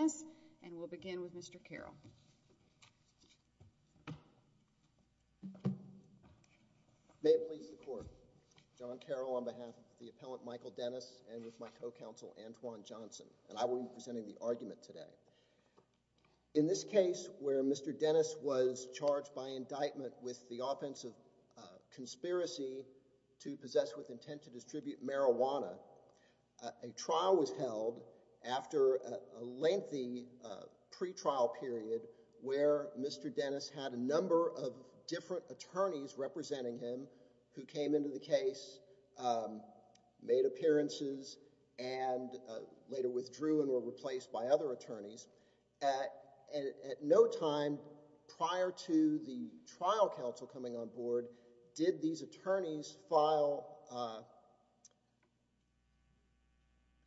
and we'll begin with Mr. Carroll. May it please the court. John Carroll on behalf of the appellant Michael Dennis and with my co-counsel Antoine Johnson and I will be presenting the argument today. In this case where Mr. Dennis was charged by indictment with the offense of conspiracy to possess with intent to distribute marijuana, a trial was held after a lengthy pre-trial period where Mr. Dennis had a number of different attorneys representing him who came into the case, made appearances and later withdrew and were replaced by other attorneys. At no time prior to the trial counsel coming on board did these attorneys file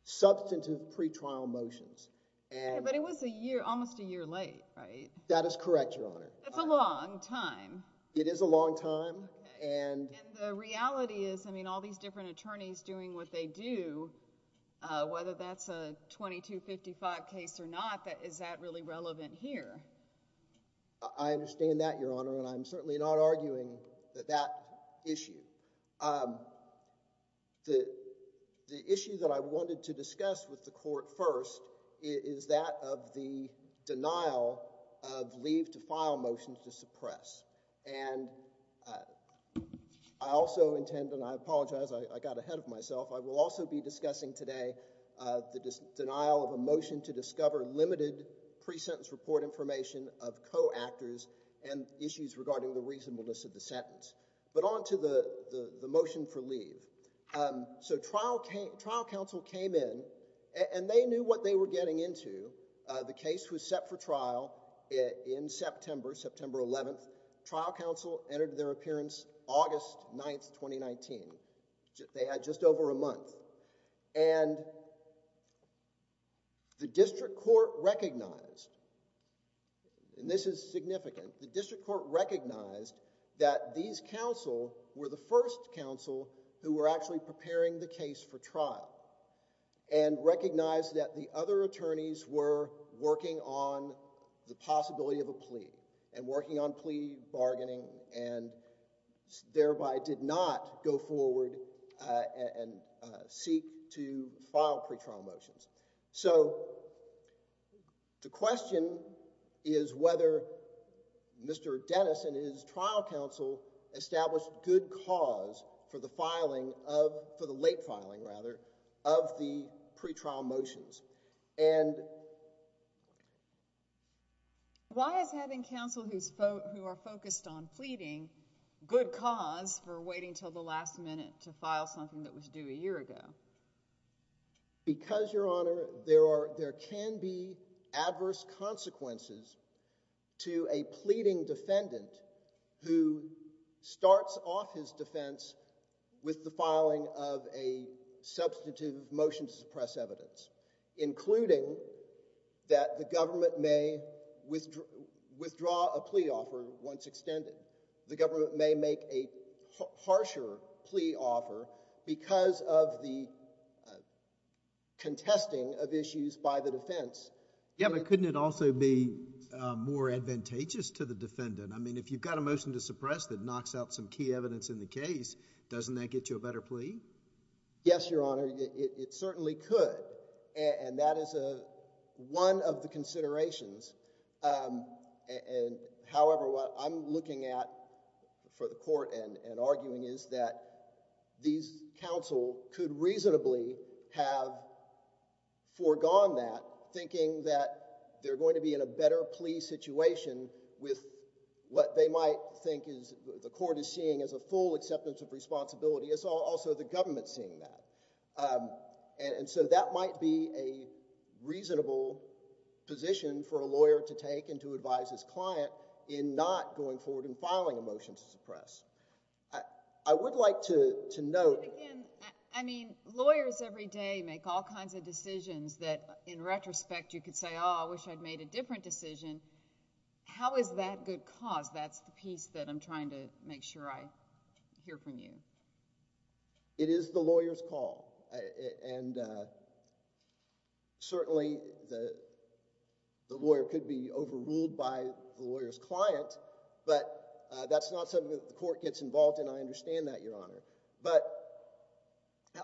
substantive pre-trial motions. But it was a year, almost a year late, right? That is correct, Your Honor. That's a long time. It is a long time. And the reality is, I mean, all these different attorneys doing what they do, whether that's a 2255 case or not, is that really relevant here? I understand that, Your Honor, and I'm certainly not arguing that that issue. The issue that I wanted to discuss with the court first is that of the denial of leave to file motions to suppress. And I also intend, and I apologize I got ahead of the denial of a motion to discover limited pre-sentence report information of co-actors and issues regarding the reasonableness of the sentence. But on to the motion for leave. So trial counsel came in and they knew what they were getting into. The case was set for trial in September, September 11th. Trial counsel entered their appearance August 9th, 2019. They had just over a month. And the district court recognized, and this is significant, the district court recognized that these counsel were the first counsel who were actually preparing the case for trial and recognized that the other attorneys were working on the possibility of a plea and working on plea bargaining and thereby did not go forward and seek to file pre-trial motions. So the question is whether Mr. Dennis and his trial counsel established good cause for the filing of, for the late filing rather, of the pre-trial motions. And why is having counsel who are focused on pleading good cause for waiting till the last minute to file something that was due a year ago? Because, Your Honor, there can be adverse consequences to a pleading defendant who starts off his defense with the filing of a substantive motion to suppress evidence, including that the government may withdraw a plea offer once extended. The government may make a harsher plea offer because of the contesting of issues by the defense. Yeah, but couldn't it also be more advantageous to the defendant? I mean, if you've got a motion to suppress that knocks out some key evidence in the case, doesn't that get you a better plea? Yes, Your Honor, it certainly could. And that is one of the considerations. However, what I'm looking at for the court and arguing is that these counsel could reasonably have foregone that, thinking that they're going to be in a better plea situation with what they might think the court is seeing as a full acceptance of responsibility. It's also the government seeing that. And so that might be a reasonable position for a lawyer to take and to advise his client in not going forward and filing a motion to suppress. I would like to note— Again, I mean, lawyers every day make all kinds of decisions that, in retrospect, you could say, oh, I wish I'd made a different decision. How is that good cause? That's the piece that I'm trying to make sure I hear from you. It is the lawyer's call. And certainly the lawyer could be overruled by the lawyer's client, but that's not something that the court gets involved in. I understand that, Your Honor. But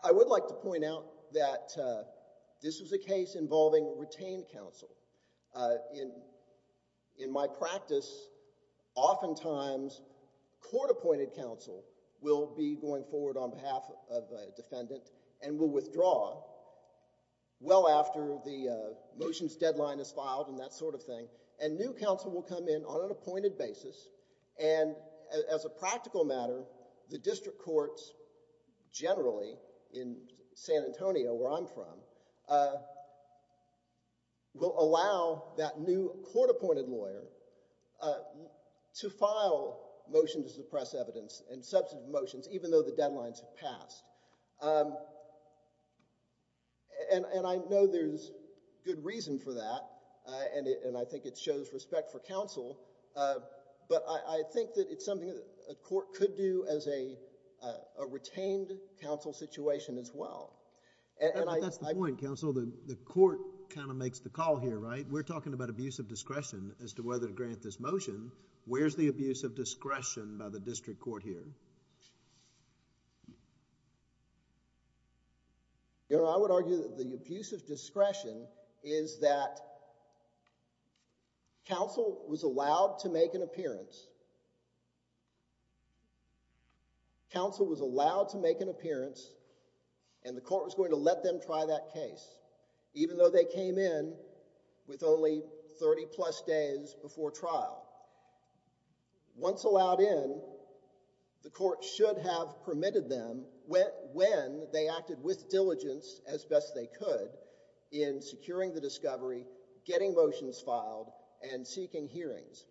I would like to point out that this was a case involving retained counsel. In my practice, oftentimes court-appointed counsel will be going forward on behalf of a defendant and will withdraw well after the motion's deadline is filed and that sort of thing, and new counsel will come in on an Antonio, where I'm from, will allow that new court-appointed lawyer to file motion to suppress evidence and substantive motions even though the deadlines have passed. And I know there's good reason for that, and I think it shows respect for counsel, but I think that it's to do as a retained counsel situation as well. But that's the point, counsel. The court kind of makes the call here, right? We're talking about abuse of discretion as to whether to grant this motion. Where's the abuse of discretion by the district court here? Your Honor, I would argue that the abuse of Counsel was allowed to make an appearance, and the court was going to let them try that case, even though they came in with only 30-plus days before trial. Once allowed in, the court should have permitted them when they acted with diligence as best they could in securing the discovery, getting motions filed, and seeking hearings.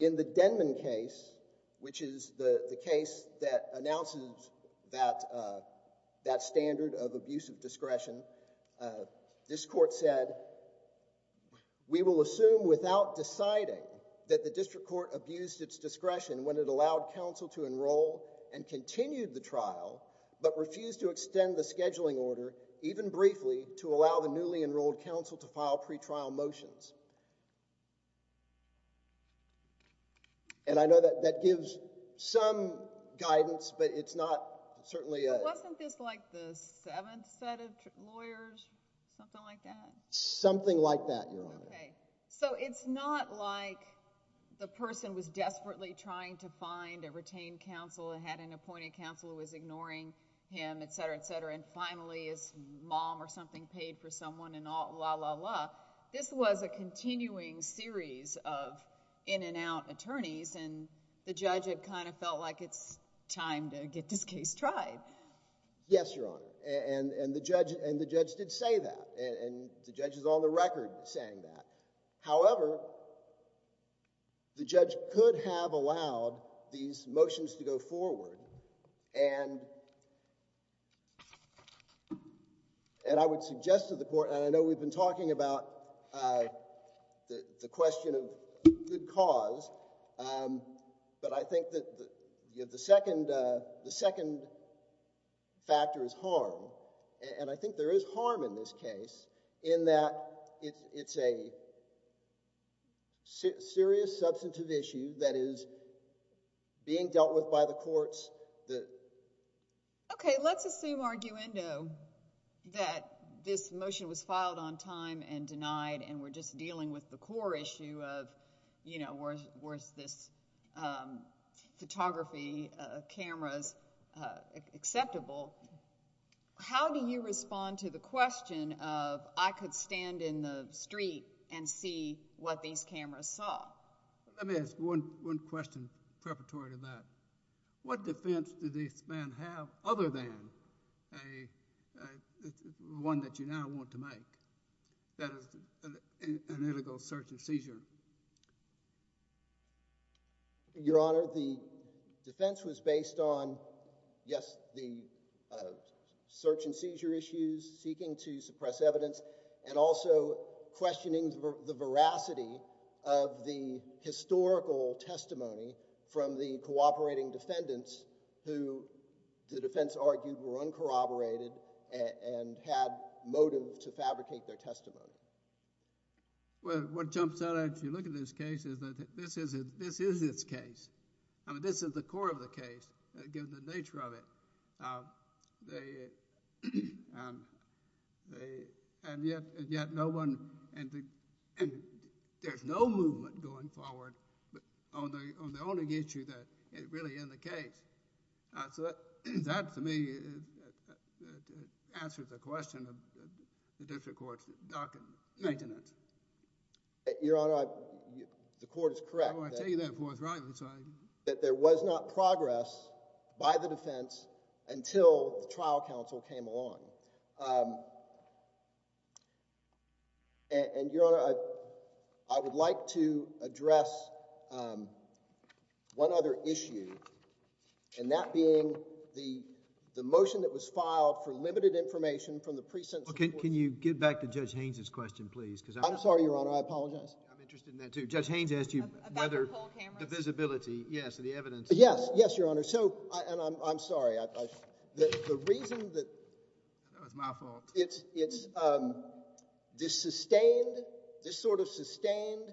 In the Denman case, which is the case that announces that standard of abuse of discretion, this court said, we will assume without deciding that the district court abused its discretion when it allowed counsel to enroll and continued the trial, but refused to extend the scheduling order even briefly to allow the newly enrolled counsel to file pretrial motions. And I know that that gives some guidance, but it's not certainly a... But wasn't this like the seventh set of lawyers? Something like that? Something like that, Your Honor. Okay. So it's not like the person was desperately trying to find a retained counsel and had an appointed counsel who was ignoring him, et cetera, et cetera, and finally his mom or something paid for someone, and la, la, la. This was a continuing series of in-and-out attorneys, and the judge had kind of felt like it's time to get this case tried. Yes, Your Honor. And the judge did say that, and the judge is on the record saying that. However, the judge could have allowed these motions to go forward, and I would suggest to the court, and I know we've been talking about the question of good cause, but I think that the second factor is harm, and I think there is harm in this case in that it's a serious substantive issue that is being dealt with by the courts that... Okay. Let's assume, arguendo, that this motion was filed on time and denied, and we're just dealing with the core issue of, you know, was this photography of cameras acceptable? How do you respond to the question of, I could stand in the street and see what these cameras saw? Let me ask one question preparatory to that. What defense did this man have other than one that you now want to make, that is, an illegal search and seizure? Your Honor, the defense was based on, yes, the search and seizure issues, seeking to suppress evidence, and also questioning the veracity of the historical testimony from the cooperating defendants who, the defense argued, were uncorroborated and had motive to fabricate their testimony. Well, what jumps out at you looking at this case is that this is its case. I mean, this is the core of the case, given the nature of it, and yet no one, and there's no movement going forward on the only issue that is really in the case. So that, to me, answers the question of the district court's docket maintenance. Your Honor, the court is correct that... There was not progress by the defense until the trial counsel came along. And, Your Honor, I would like to address one other issue, and that being the motion that was filed for limited information from the precincts... Well, can you get back to Judge Haynes' question, please? I'm sorry, Your Honor, I apologize. I'm interested in that, too. Judge Haynes asked you whether... About the poll cameras? The visibility, yes, and the evidence... Yes, yes, Your Honor. So, and I'm sorry, the reason that... That was my fault. It's, this sustained, this sort of sustained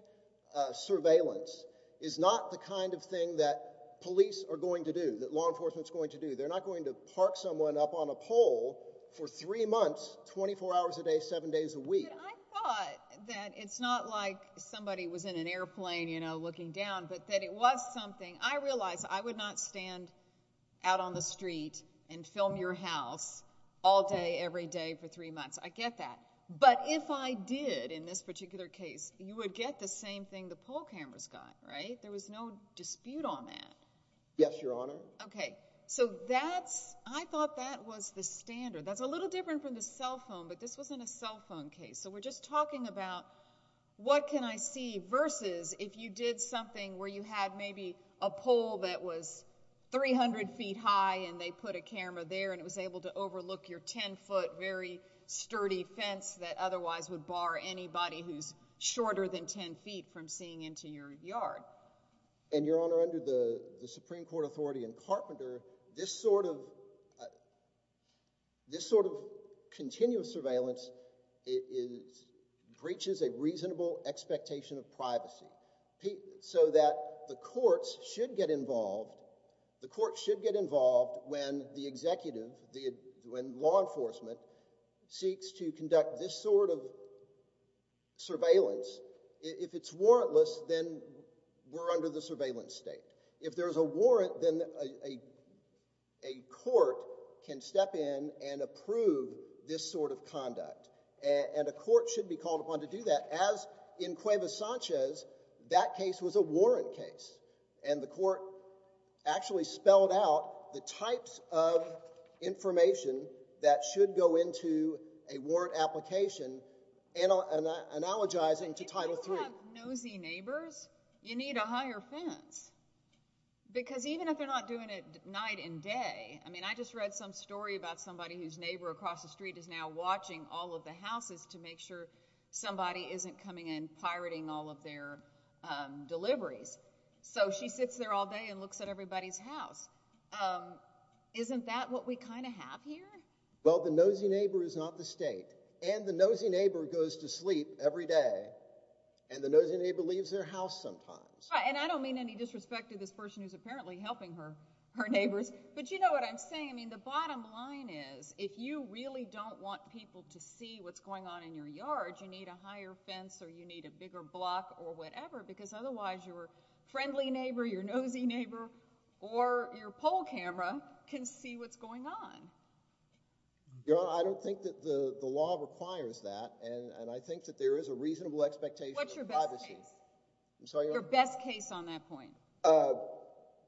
surveillance is not the kind of thing that police are going to do, that law enforcement's going to do. They're not going to park someone up on a pole for three months, 24 hours a day, seven days a week. I thought that it's not like somebody was in an airplane, you know, looking down, but that it was something. I realized I would not stand out on the street and film your house all day, every day, for three months. I get that. But if I did, in this particular case, you would get the same thing the poll cameras got, right? There was no dispute on that. Yes, Your Honor. Okay, so that's, I thought that was the standard. That's a little different from the cell phone, but this wasn't a cell phone case. So we're just talking about what can I see versus if you did something where you had maybe a pole that was 300 feet high and they put a camera there and it was able to overlook your 10 foot, very sturdy fence that otherwise would bar anybody who's shorter than 10 feet from seeing into your yard. And Your Honor, under the Supreme Court authority in Carpenter, this sort of, this sort of continuous surveillance breaches a reasonable expectation of privacy. So that the courts should get involved, the courts should get involved when the executive, when law enforcement seeks to conduct this sort of surveillance. If it's warrantless, then we're under the surveillance state. If there's a warrant, then a court can step in and approve this sort of conduct. And a court should be called upon to do that. As in Cuevas Sanchez, that case was a warrant case and the court actually spelled out the types of information that should go into a If you have nosy neighbors, you need a higher fence. Because even if they're not doing it night and day, I mean, I just read some story about somebody whose neighbor across the street is now watching all of the houses to make sure somebody isn't coming in pirating all of their deliveries. So she sits there all day and looks at everybody's house. Isn't that what we kind of have here? Well, the nosy neighbor is not the state and the nosy neighbor goes to sleep every day and the nosy neighbor leaves their house sometimes. And I don't mean any disrespect to this person who's apparently helping her neighbors, but you know what I'm saying? I mean, the bottom line is, if you really don't want people to see what's going on in your yard, you need a higher fence or you need a bigger block or whatever, because otherwise your friendly neighbor, your nosy neighbor, or your pole camera can see what's going on. Your Honor, I don't think that the law requires that, and I think that there is a reasonable expectation of privacy. What's your best case? I'm sorry? Your best case on that point.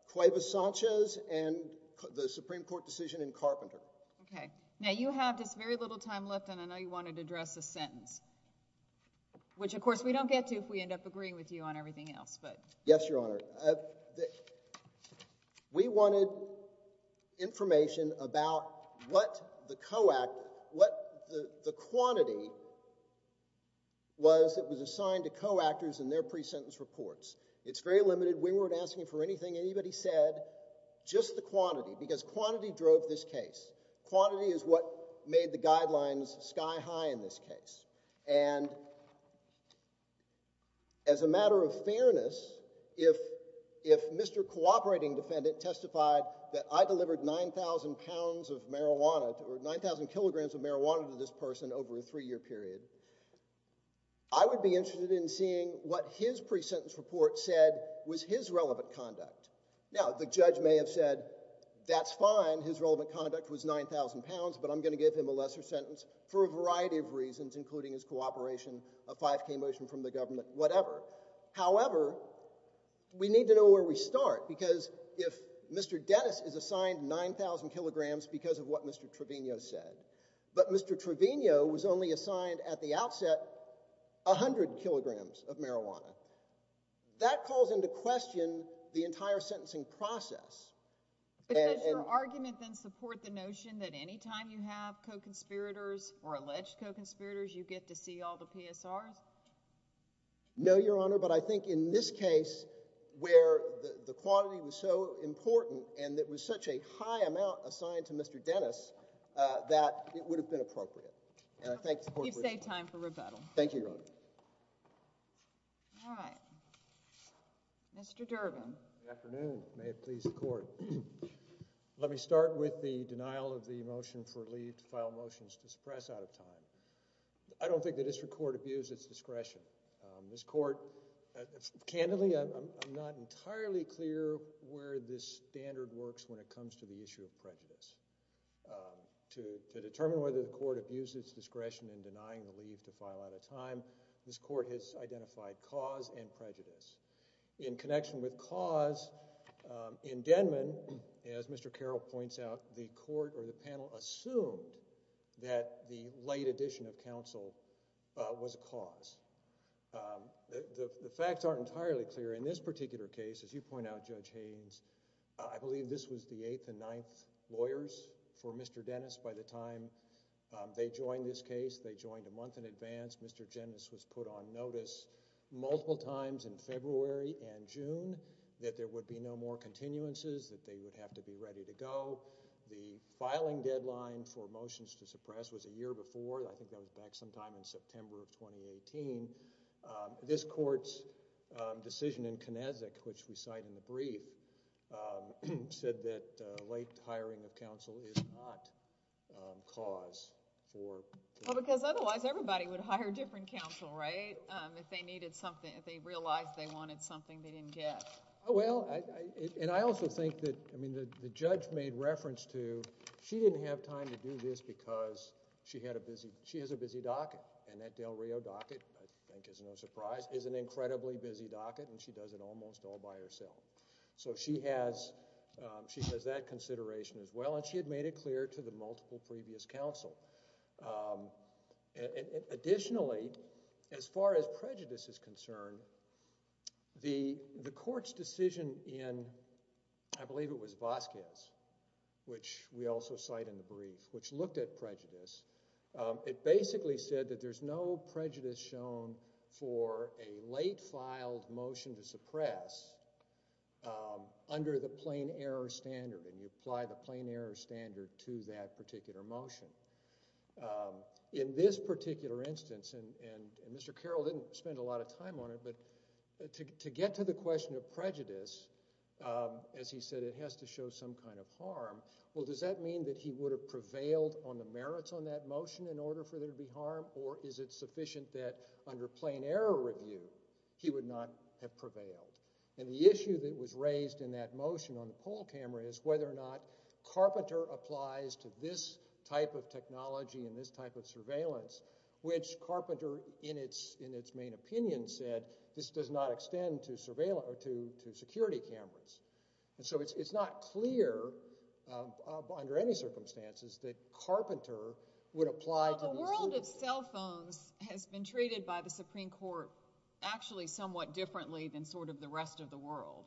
Cuevas Sanchez and the Supreme Court decision in Carpenter. Okay. Now you have just very little time left and I know you wanted to address a sentence, which of course we don't get to if we end up agreeing with you on everything else. Yes, Your Honor. We wanted information about what the quantity was that was assigned to co-actors in their pre-sentence reports. It's very limited. We weren't asking for anything anybody said, just the quantity, because quantity drove this case. Quantity is what made the guidelines sky high in this case. And as a matter of fairness, if Mr. Cooperating Defendant testified that I delivered 9,000 pounds of marijuana, or 9,000 kilograms of marijuana to this person over a three-year period, I would be interested in seeing what his pre-sentence report said was his relevant conduct. Now, the judge may have said, that's fine, his relevant conduct was 9,000 pounds, but I'm going to give him a lesser sentence for a variety of reasons, including his cooperation, a 5K motion from the government, whatever. However, we need to know where we start. Because if Mr. Dennis is assigned 9,000 kilograms because of what Mr. Trevino said, but Mr. Trevino was only assigned at the outset 100 kilograms of marijuana, that calls into question the entire sentencing process. But does your argument then support the notion that any time you have co-conspirators, or alleged co-conspirators, you get to see all the PSRs? No, Your Honor, but I think in this case, where the quantity was so important, and it was such a high amount assigned to Mr. Dennis, that it would have been appropriate. You've saved time for rebuttal. Thank you, Your Honor. All right. Mr. Durbin. Good afternoon. May it please the court. Let me start with the denial of the motion for leave to file motions to suppress out of time. I don't think the district court abused its discretion. This court, candidly, I'm not entirely clear where this standard works when it comes to the issue of prejudice. To determine whether the court abused its discretion in denying the leave to file out of time, this court has identified cause and prejudice. In connection with cause, in Denman, as Mr. Carroll points out, the court or the panel assumed that the late addition of counsel was a cause. The facts aren't entirely clear. In this particular case, as you point out, Judge Haynes, I believe this was the eighth and ninth lawyers for Mr. Dennis by the time they joined this case. They joined a month in advance. Mr. Dennis was put on notice multiple times in February and June that there would be no more continuances, that they would have to be ready to go. The filing deadline for motions to suppress was a year before. I think that was back sometime in September of 2018. This court's decision in Knezek, which we cite in the brief, said that late hiring of counsel is not cause for prejudice. Otherwise, everybody would hire different counsel, right? If they realized they wanted something they didn't get. I also think that the judge made reference to, she didn't have time to do this because she has a busy docket. That Del Rio docket, I think there's no surprise, is an incredibly busy docket. She does it almost all by herself. She has that consideration as well. She had made it clear to the multiple previous counsel. Additionally, as far as prejudice is concerned, the court's decision in, I believe it was Vasquez, which we also cite in the brief, which looked at prejudice, it basically said that there's no prejudice shown for a late filed motion to suppress under the plain error standard. You apply the plain error standard to that particular motion. In this particular instance, and Mr. Carroll didn't spend a lot of time on it, but to get to the question of prejudice, as he said, it has to show some kind of harm. Does that mean that he would have prevailed on the merits on that motion in order for there to be harm? he would not have prevailed? The issue that was raised in that motion on the poll camera is whether or not Carpenter applies to this type of technology and this type of surveillance, which Carpenter, in its main opinion, said, this does not extend to security cameras. It's not clear, under any circumstances, that Carpenter would apply to this. The world of cell phones has been treated by the Supreme Court actually somewhat differently than sort of the rest of the world.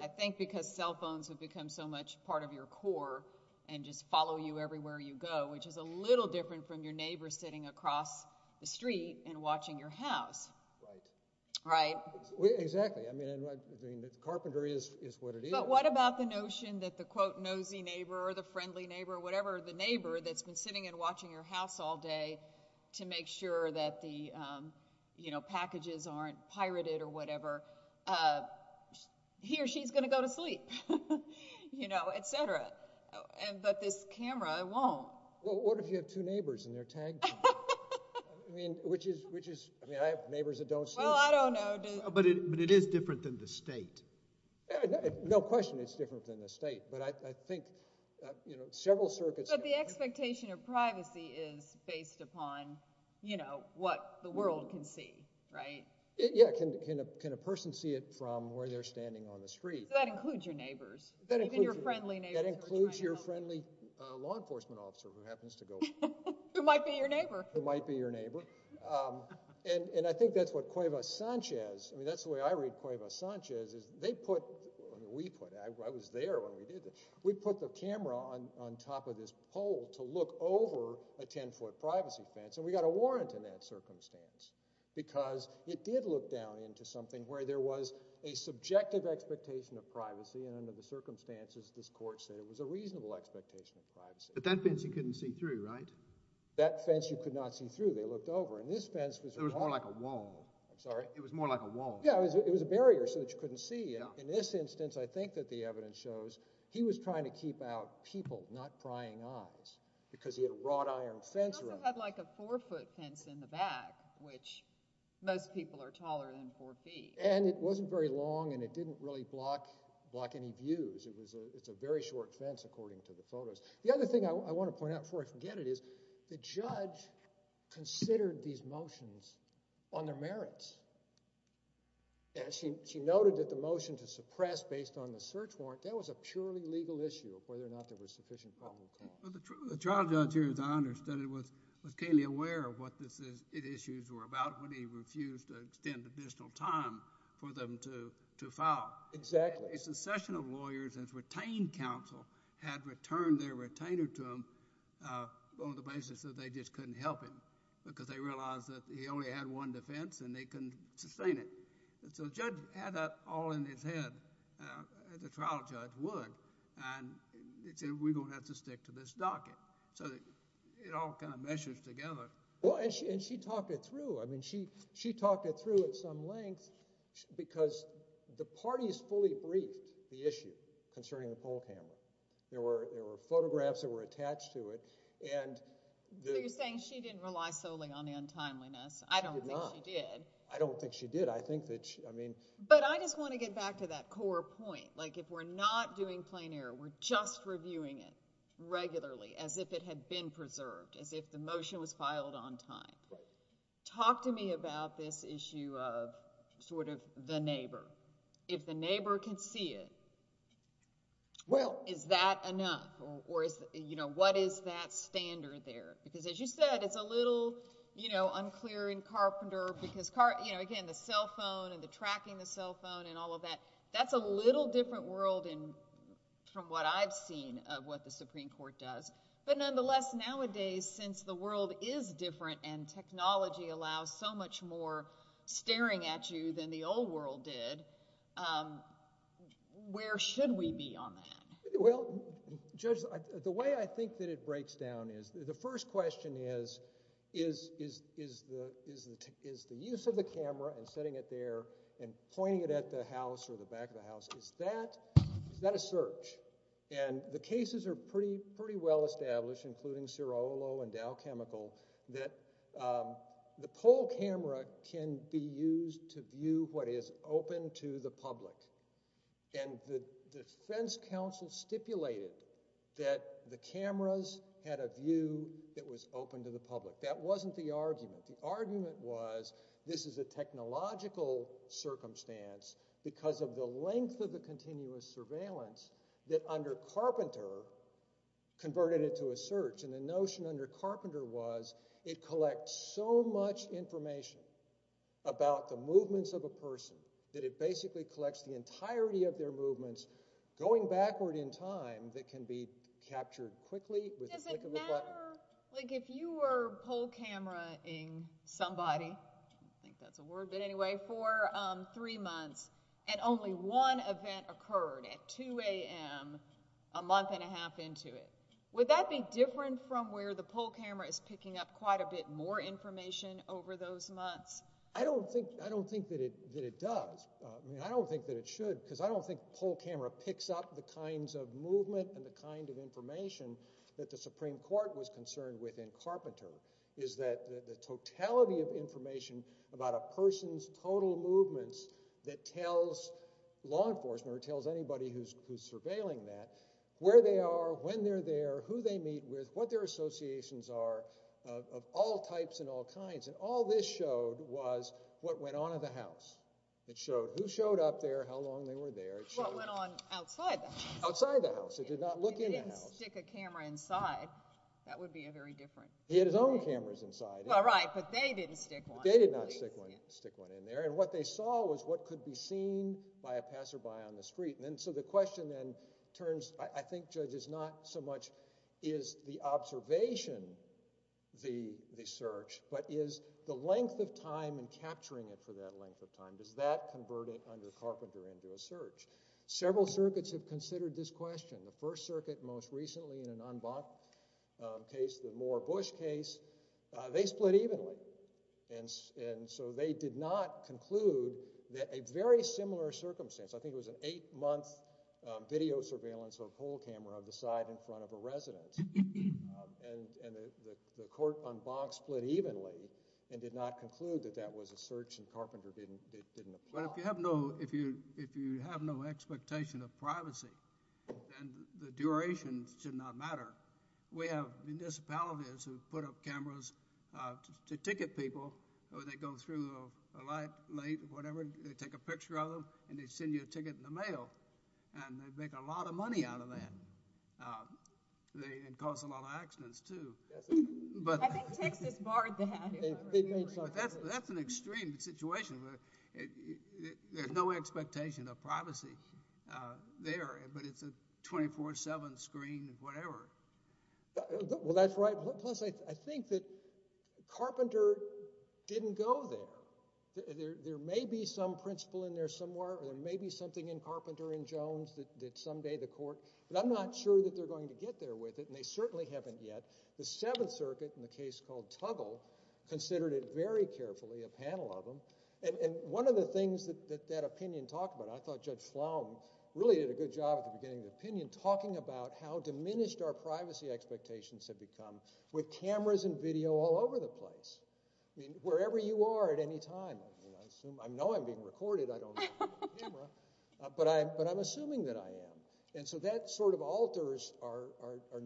I think because cell phones have become so much part of your core and just follow you everywhere you go, which is a little different from your neighbor sitting across the street and watching your house. Right. Right. Exactly. I mean, Carpenter is what it is. But what about the notion that the, quote, nosy neighbor or the friendly neighbor or whatever, the neighbor that's been sitting and watching your house all day to make sure that the packages aren't pirated or whatever, he or she's going to go to sleep, you know, et cetera. But this camera won't. Well, what if you have two neighbors and they're tag team? I mean, which is, I mean, I have neighbors that don't sleep. Well, I don't know. But it is different than the state. No question it's different than the state. But I think, you know, several circuits... But the expectation of privacy is based upon, you know, what the world can see, right? Yeah. Can a person see it from where they're standing on the street? So that includes your neighbors, even your friendly neighbors. That includes your friendly law enforcement officer who happens to go... Who might be your neighbor. Who might be your neighbor. And I think that's what Cuevas Sanchez, I mean, that's the way I read Cuevas Sanchez, is they put, we put, I was there when we did this, we put the camera on top of this pole to look over a 10-foot privacy fence. And we got a warrant in that circumstance because it did look down into something where there was a subjective expectation of privacy and under the circumstances this court said it was a reasonable expectation of privacy. But that fence you couldn't see through, right? That fence you could not see through, they looked over. And this fence was... It was more like a wall. I'm sorry? It was more like a wall. Yeah, it was a barrier so that you couldn't see. In this instance, I think that the evidence shows he was trying to keep out people, not prying eyes because he had a wrought iron fence around. He also had like a four-foot fence in the back which most people are taller than four feet. And it wasn't very long and it didn't really block any views. It's a very short fence according to the photos. The other thing I want to point out before I forget it is the judge considered these motions on their merits. She noted that the motion to suppress based on the search warrant, that was a purely legal issue of whether or not there was sufficient probable cause. The trial judge here, as I understood it, was keenly aware of what these issues were about when he refused to extend additional time for them to file. Exactly. A succession of lawyers and retained counsel had returned their retainer to him on the basis that they just couldn't help him because they realized that he only had one defense and they couldn't sustain it. So the judge had that all in his head as a trial judge would and he said we're going to have to stick to this docket. So it all kind of meshes together. And she talked it through. She talked it through at some length because the parties fully briefed the issue concerning the poll camera. There were photographs that were attached to it. So you're saying she didn't rely solely on the untimeliness. She did not. I don't think she did. I don't think she did. But I just want to get back to that core point. Like if we're not doing plain error, we're just reviewing it regularly as if it had been preserved, as if the motion was filed on time. Talk to me about this issue of sort of the neighbor. If the neighbor can see it, well, is that enough? Or what is that standard there? Because as you said, it's a little unclear in Carpenter because, again, the cell phone and the tracking the cell phone and all of that, that's a little different world from what I've seen of what the Supreme Court does. But nonetheless, nowadays, since the world is different and technology allows so much more staring at you than the old world did, where should we be on that? Well, Judge, the way I think that it breaks down is the first question is is the use of the camera and setting it there and pointing it at the house or the back of the house, is that a search? And the cases are pretty well established including Cirolo and Dow Chemical that the pole camera can be used to view what is open to the public. And the defense counsel stipulated that the cameras had a view that was open to the public. That wasn't the argument. The argument was this is a technological circumstance because of the length of the continuous surveillance that under Carpenter converted it to a search. And the notion under Carpenter was it collects so much information about the movements of a person that it basically collects the entirety of their movements going backward in time that can be captured quickly with the click of a button. Does it matter, like if you were pole camera-ing somebody I think that's a word, but anyway for three months and only one event occurred at 2 a.m. a month and a half into it would that be different from where the pole camera is picking up quite a bit more information over those months? I don't think that it does. I don't think that it should because I don't think pole camera picks up the kinds of movement and the kind of information that the Supreme Court was concerned with in Carpenter is that the totality of information about a person's total movements that tells law enforcement or tells anybody who's surveilling that where they are, when they're there who they meet with, what their associations are of all types and all kinds and all this showed was what went on in the house. It showed who showed up there how long they were there. What went on outside the house? Outside the house. It did not look in the house. If he didn't stick a camera inside that would be a very different story. He had his own cameras inside. Right, but they didn't stick one. They did not stick one in there and what they saw was what could be seen by a passerby on the street and so the question then turns I think, Judge, is not so much is the observation the search but is the length of time and capturing it for that length of time and does that convert it under Carpenter into a search? Several circuits have considered this question. The First Circuit most recently in an en banc case the Moore-Bush case they split evenly and so they did not conclude that a very similar circumstance I think it was an eight month video surveillance or poll camera of the side in front of a resident and the court en banc split evenly and did not conclude that that was a search and Carpenter didn't apply. But if you have no expectation of privacy then the duration should not matter. We have municipalities who put up cameras to ticket people when they go through late they take a picture of them and they send you a ticket in the mail and they make a lot of money out of that and cause a lot of accidents too. I think Texas barred that. That's an extreme situation there's no expectation of privacy there but it's a 24-7 screen whatever. Well that's right plus I think that Carpenter didn't go there. There may be some principle in there somewhere there may be something in Carpenter and Jones that someday the court but I'm not sure that they're going to get there with it and they certainly haven't yet. The 7th circuit in the case called Tuggle considered it very carefully a panel of them and one of the things that that opinion talked about, I thought Judge Sloan really did a good job at the beginning of the opinion talking about how diminished our privacy expectations have become with cameras and video all over the place. Wherever you are at any time I know I'm being recorded I don't have a camera but I'm assuming that I am and so that sort of alters our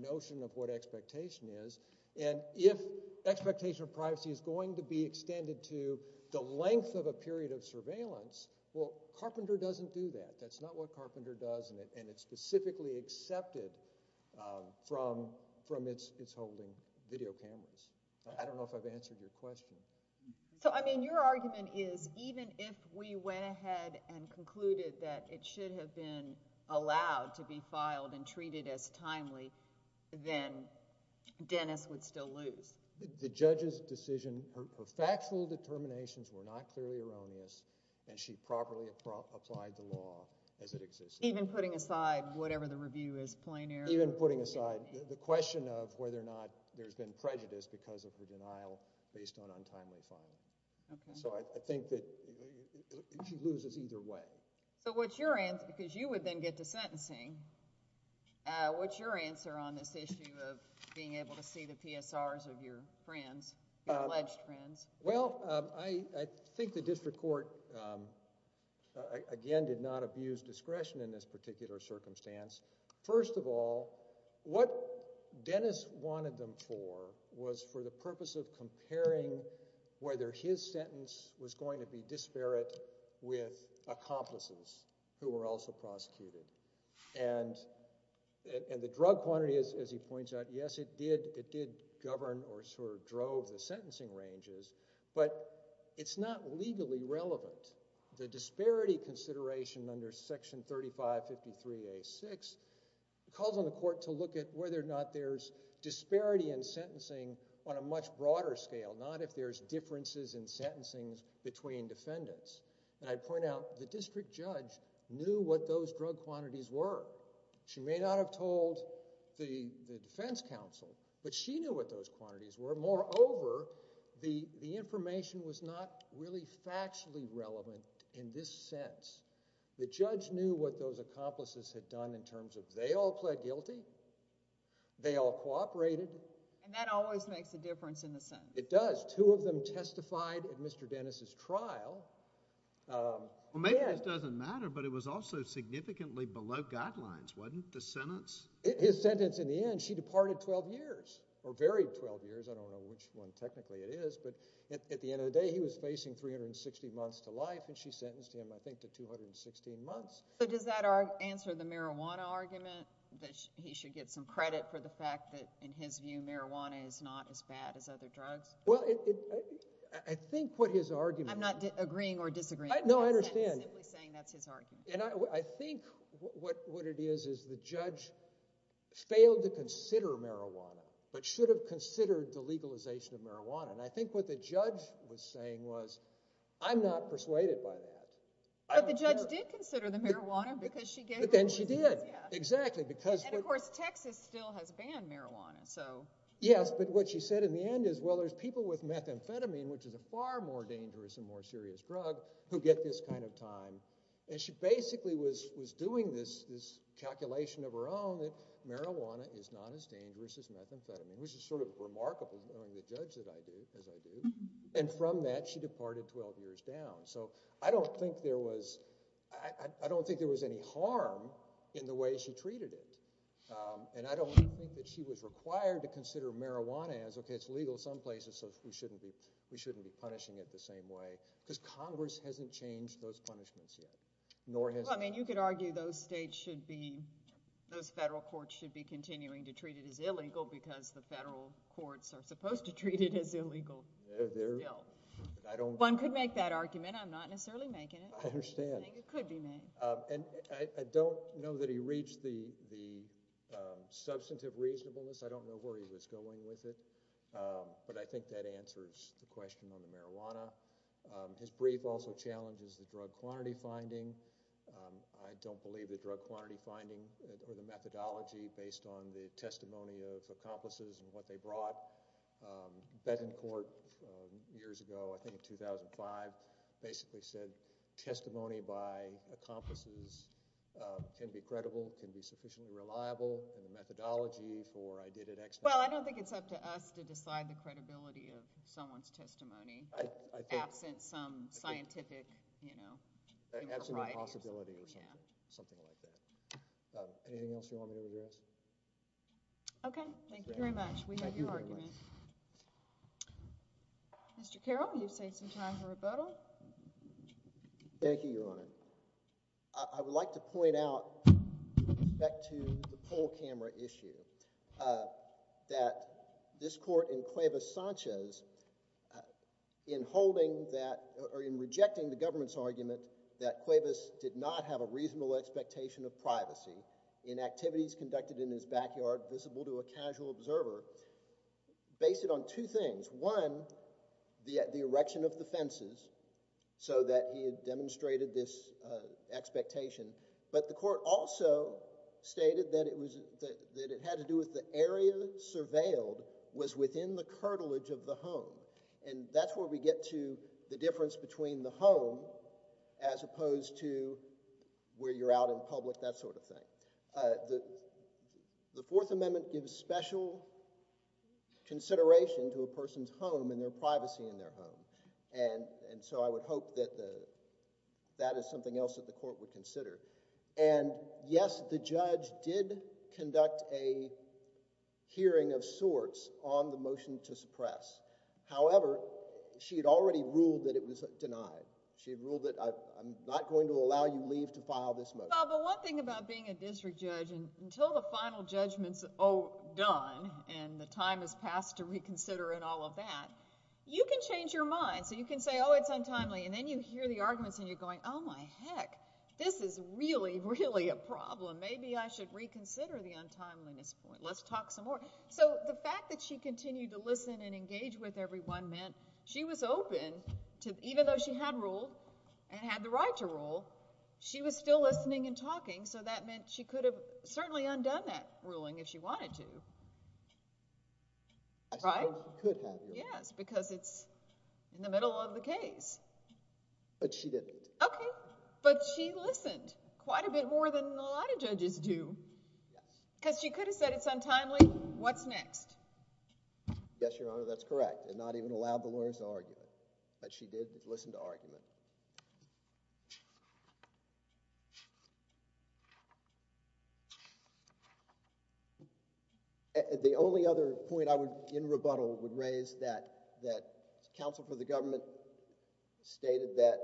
notion of what expectation is and if expectation of privacy is going to be extended to the length of a period of surveillance Carpenter doesn't do that. That's not what Carpenter does and it's specifically accepted from its holding video cameras. I don't know if I've answered your question. Your argument is even if we went ahead and concluded that it should have been allowed to be filed and treated as timely then Dennis would still lose. The judge's decision, her factual determinations were not clearly erroneous and she properly applied the law as it existed. Even putting aside whatever the review is plain air. Even putting aside the question of whether or not there's been prejudice because of the denial based on untimely filing. So I think that she loses either way. So what's your answer? Because you would then get to sentencing. What's your answer on this issue of being able to see the PSRs of your friends, your alleged friends? Well, I think the district court again did not abuse discretion in this particular circumstance. First of all, what Dennis wanted them for was for the purpose of comparing whether his sentence was going to be disparate with accomplices who were also prosecuted. And the drug quantity, as he points out, yes, it did govern or sort of drove the sentencing ranges but it's not legally relevant. The disparity consideration under section 3553A6 calls on the court to look at whether or not there's disparity in sentencing on a much broader scale, not if there's differences in sentencing between defendants. And I point out, the district judge knew what those drug quantities were. She may not have told the defense counsel, but she knew what those quantities were. Moreover, the information was not really factually relevant in this sense. The judge knew what those accomplices had done in terms of they all pled guilty, they all cooperated. And that always makes a difference in the sentence. It does. Two of them testified at Mr. Dennis' trial. Maybe this doesn't matter but it was also significantly below guidelines, wasn't the sentence? His sentence in the end, she departed 12 years, or very 12 years, I don't know which one technically it is, but at the end of the day, he was facing 360 months to life and she sentenced him I think to 216 months. Does that answer the marijuana argument that he should get some credit for the fact that, in his view, marijuana is not as bad as other drugs? I think what his argument I'm not agreeing or disagreeing No, I understand. I think what it is is the judge failed to consider marijuana but should have considered the legalization of marijuana. And I think what the judge was saying was, I'm not persuaded by that. But the judge did consider the marijuana because she gave her reasons. And of course, Texas still has banned marijuana. Yes, but what she said in the end is, well, there's people with methamphetamine, which is a far more dangerous and more serious drug, who get this kind of time. And she basically was doing this calculation of her own that marijuana is not as dangerous as methamphetamine, which is sort of remarkable knowing the judge that I do, as I do. And from that, she departed 12 years down. So, I don't think there was I don't think there was any harm in the way she treated it. And I don't think that she was required to consider marijuana as okay, it's legal some places, so we shouldn't be we shouldn't be punishing it the same way. Because Congress hasn't changed those punishments yet. Nor has Well, I mean, you could argue those states should be those federal courts should be continuing to treat it as illegal because the federal courts are supposed to treat it as illegal. One could make that argument. I'm not necessarily making it. I understand. It could be made. And I don't know that he reached the substantive reasonableness. I don't know where he was going with it. But I think that answers the question on the marijuana. His brief also challenges the drug quantity finding. I don't believe the drug quantity finding or the methodology based on the testimony of accomplices and what they brought. Bettencourt, years ago I think in 2005, basically said testimony by accomplices can be credible, can be sufficiently reliable and the methodology for I did it Well, I don't think it's up to us to decide the credibility of someone's testimony absent some scientific, you know Absolute possibility or something like that. Anything else you want me to address? Okay. Thank you very much. We have your argument. Mr. Carroll, you've saved some time for rebuttal. Thank you, Your Honor. I would like to point out with respect to the poll camera issue that this court in Cuevas Sanchez in holding that, or in rejecting the government's argument that Cuevas did not have a reasonable expectation of privacy in activities conducted in his backyard visible to a casual observer based it on two things. One, the so that he had demonstrated this expectation, but the court also stated that it had to do with the area surveilled was within the curtilage of the home and that's where we get to the difference between the home as opposed to where you're out in public, that sort of thing. The Fourth Amendment gives special consideration to a person's home and their privacy in their home and so I would hope that that is something else that the court would consider and yes, the judge did conduct a hearing of sorts on the motion to suppress. However, she had already ruled that it was denied. She had ruled that I'm not going to allow you leave to file this motion. But one thing about being a district judge, until the final judgment is done and the time has passed to reconsider and all of that, you can change your mind. You can say, oh, it's untimely and then you hear the arguments and you're going, oh my heck this is really, really a problem. Maybe I should reconsider the untimeliness point. Let's talk some more. So the fact that she continued to listen and engage with everyone meant she was open to, even though she had ruled and had the right to rule, she was still listening and talking so that meant she could have certainly undone that ruling if she wanted to. Right? Yes, because it's in the middle of the case. But she didn't. Okay, but she listened quite a bit more than a lot of judges do. Because she could have said it's untimely, what's next? Yes, Your Honor, that's correct and not even allowed the lawyers to argue. But she did listen to argument. The only other point I would, in rebuttal, would raise that counsel for the government stated that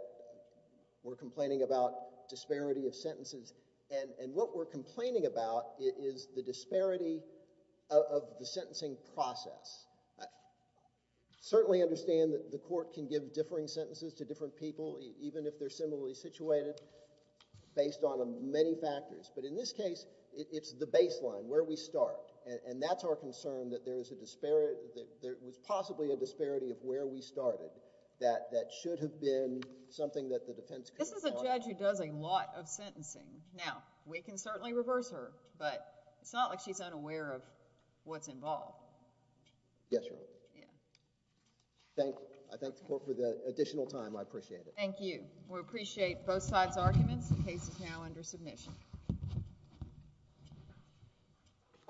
we're complaining about disparity of sentences and what we're complaining about is the disparity of the sentencing process. I certainly understand that the court can give differing sentences to different people even if they're similarly situated based on many factors but in this case, it's the that's our concern that there is a disparity that there was possibly a disparity of where we started that should have been something that the defense This is a judge who does a lot of sentencing. Now, we can certainly reverse her but it's not like she's unaware of what's involved. Yes, Your Honor. Thank you. I thank the court for the additional time. I appreciate it. Thank you. We appreciate both sides' arguments. The case is now under submission.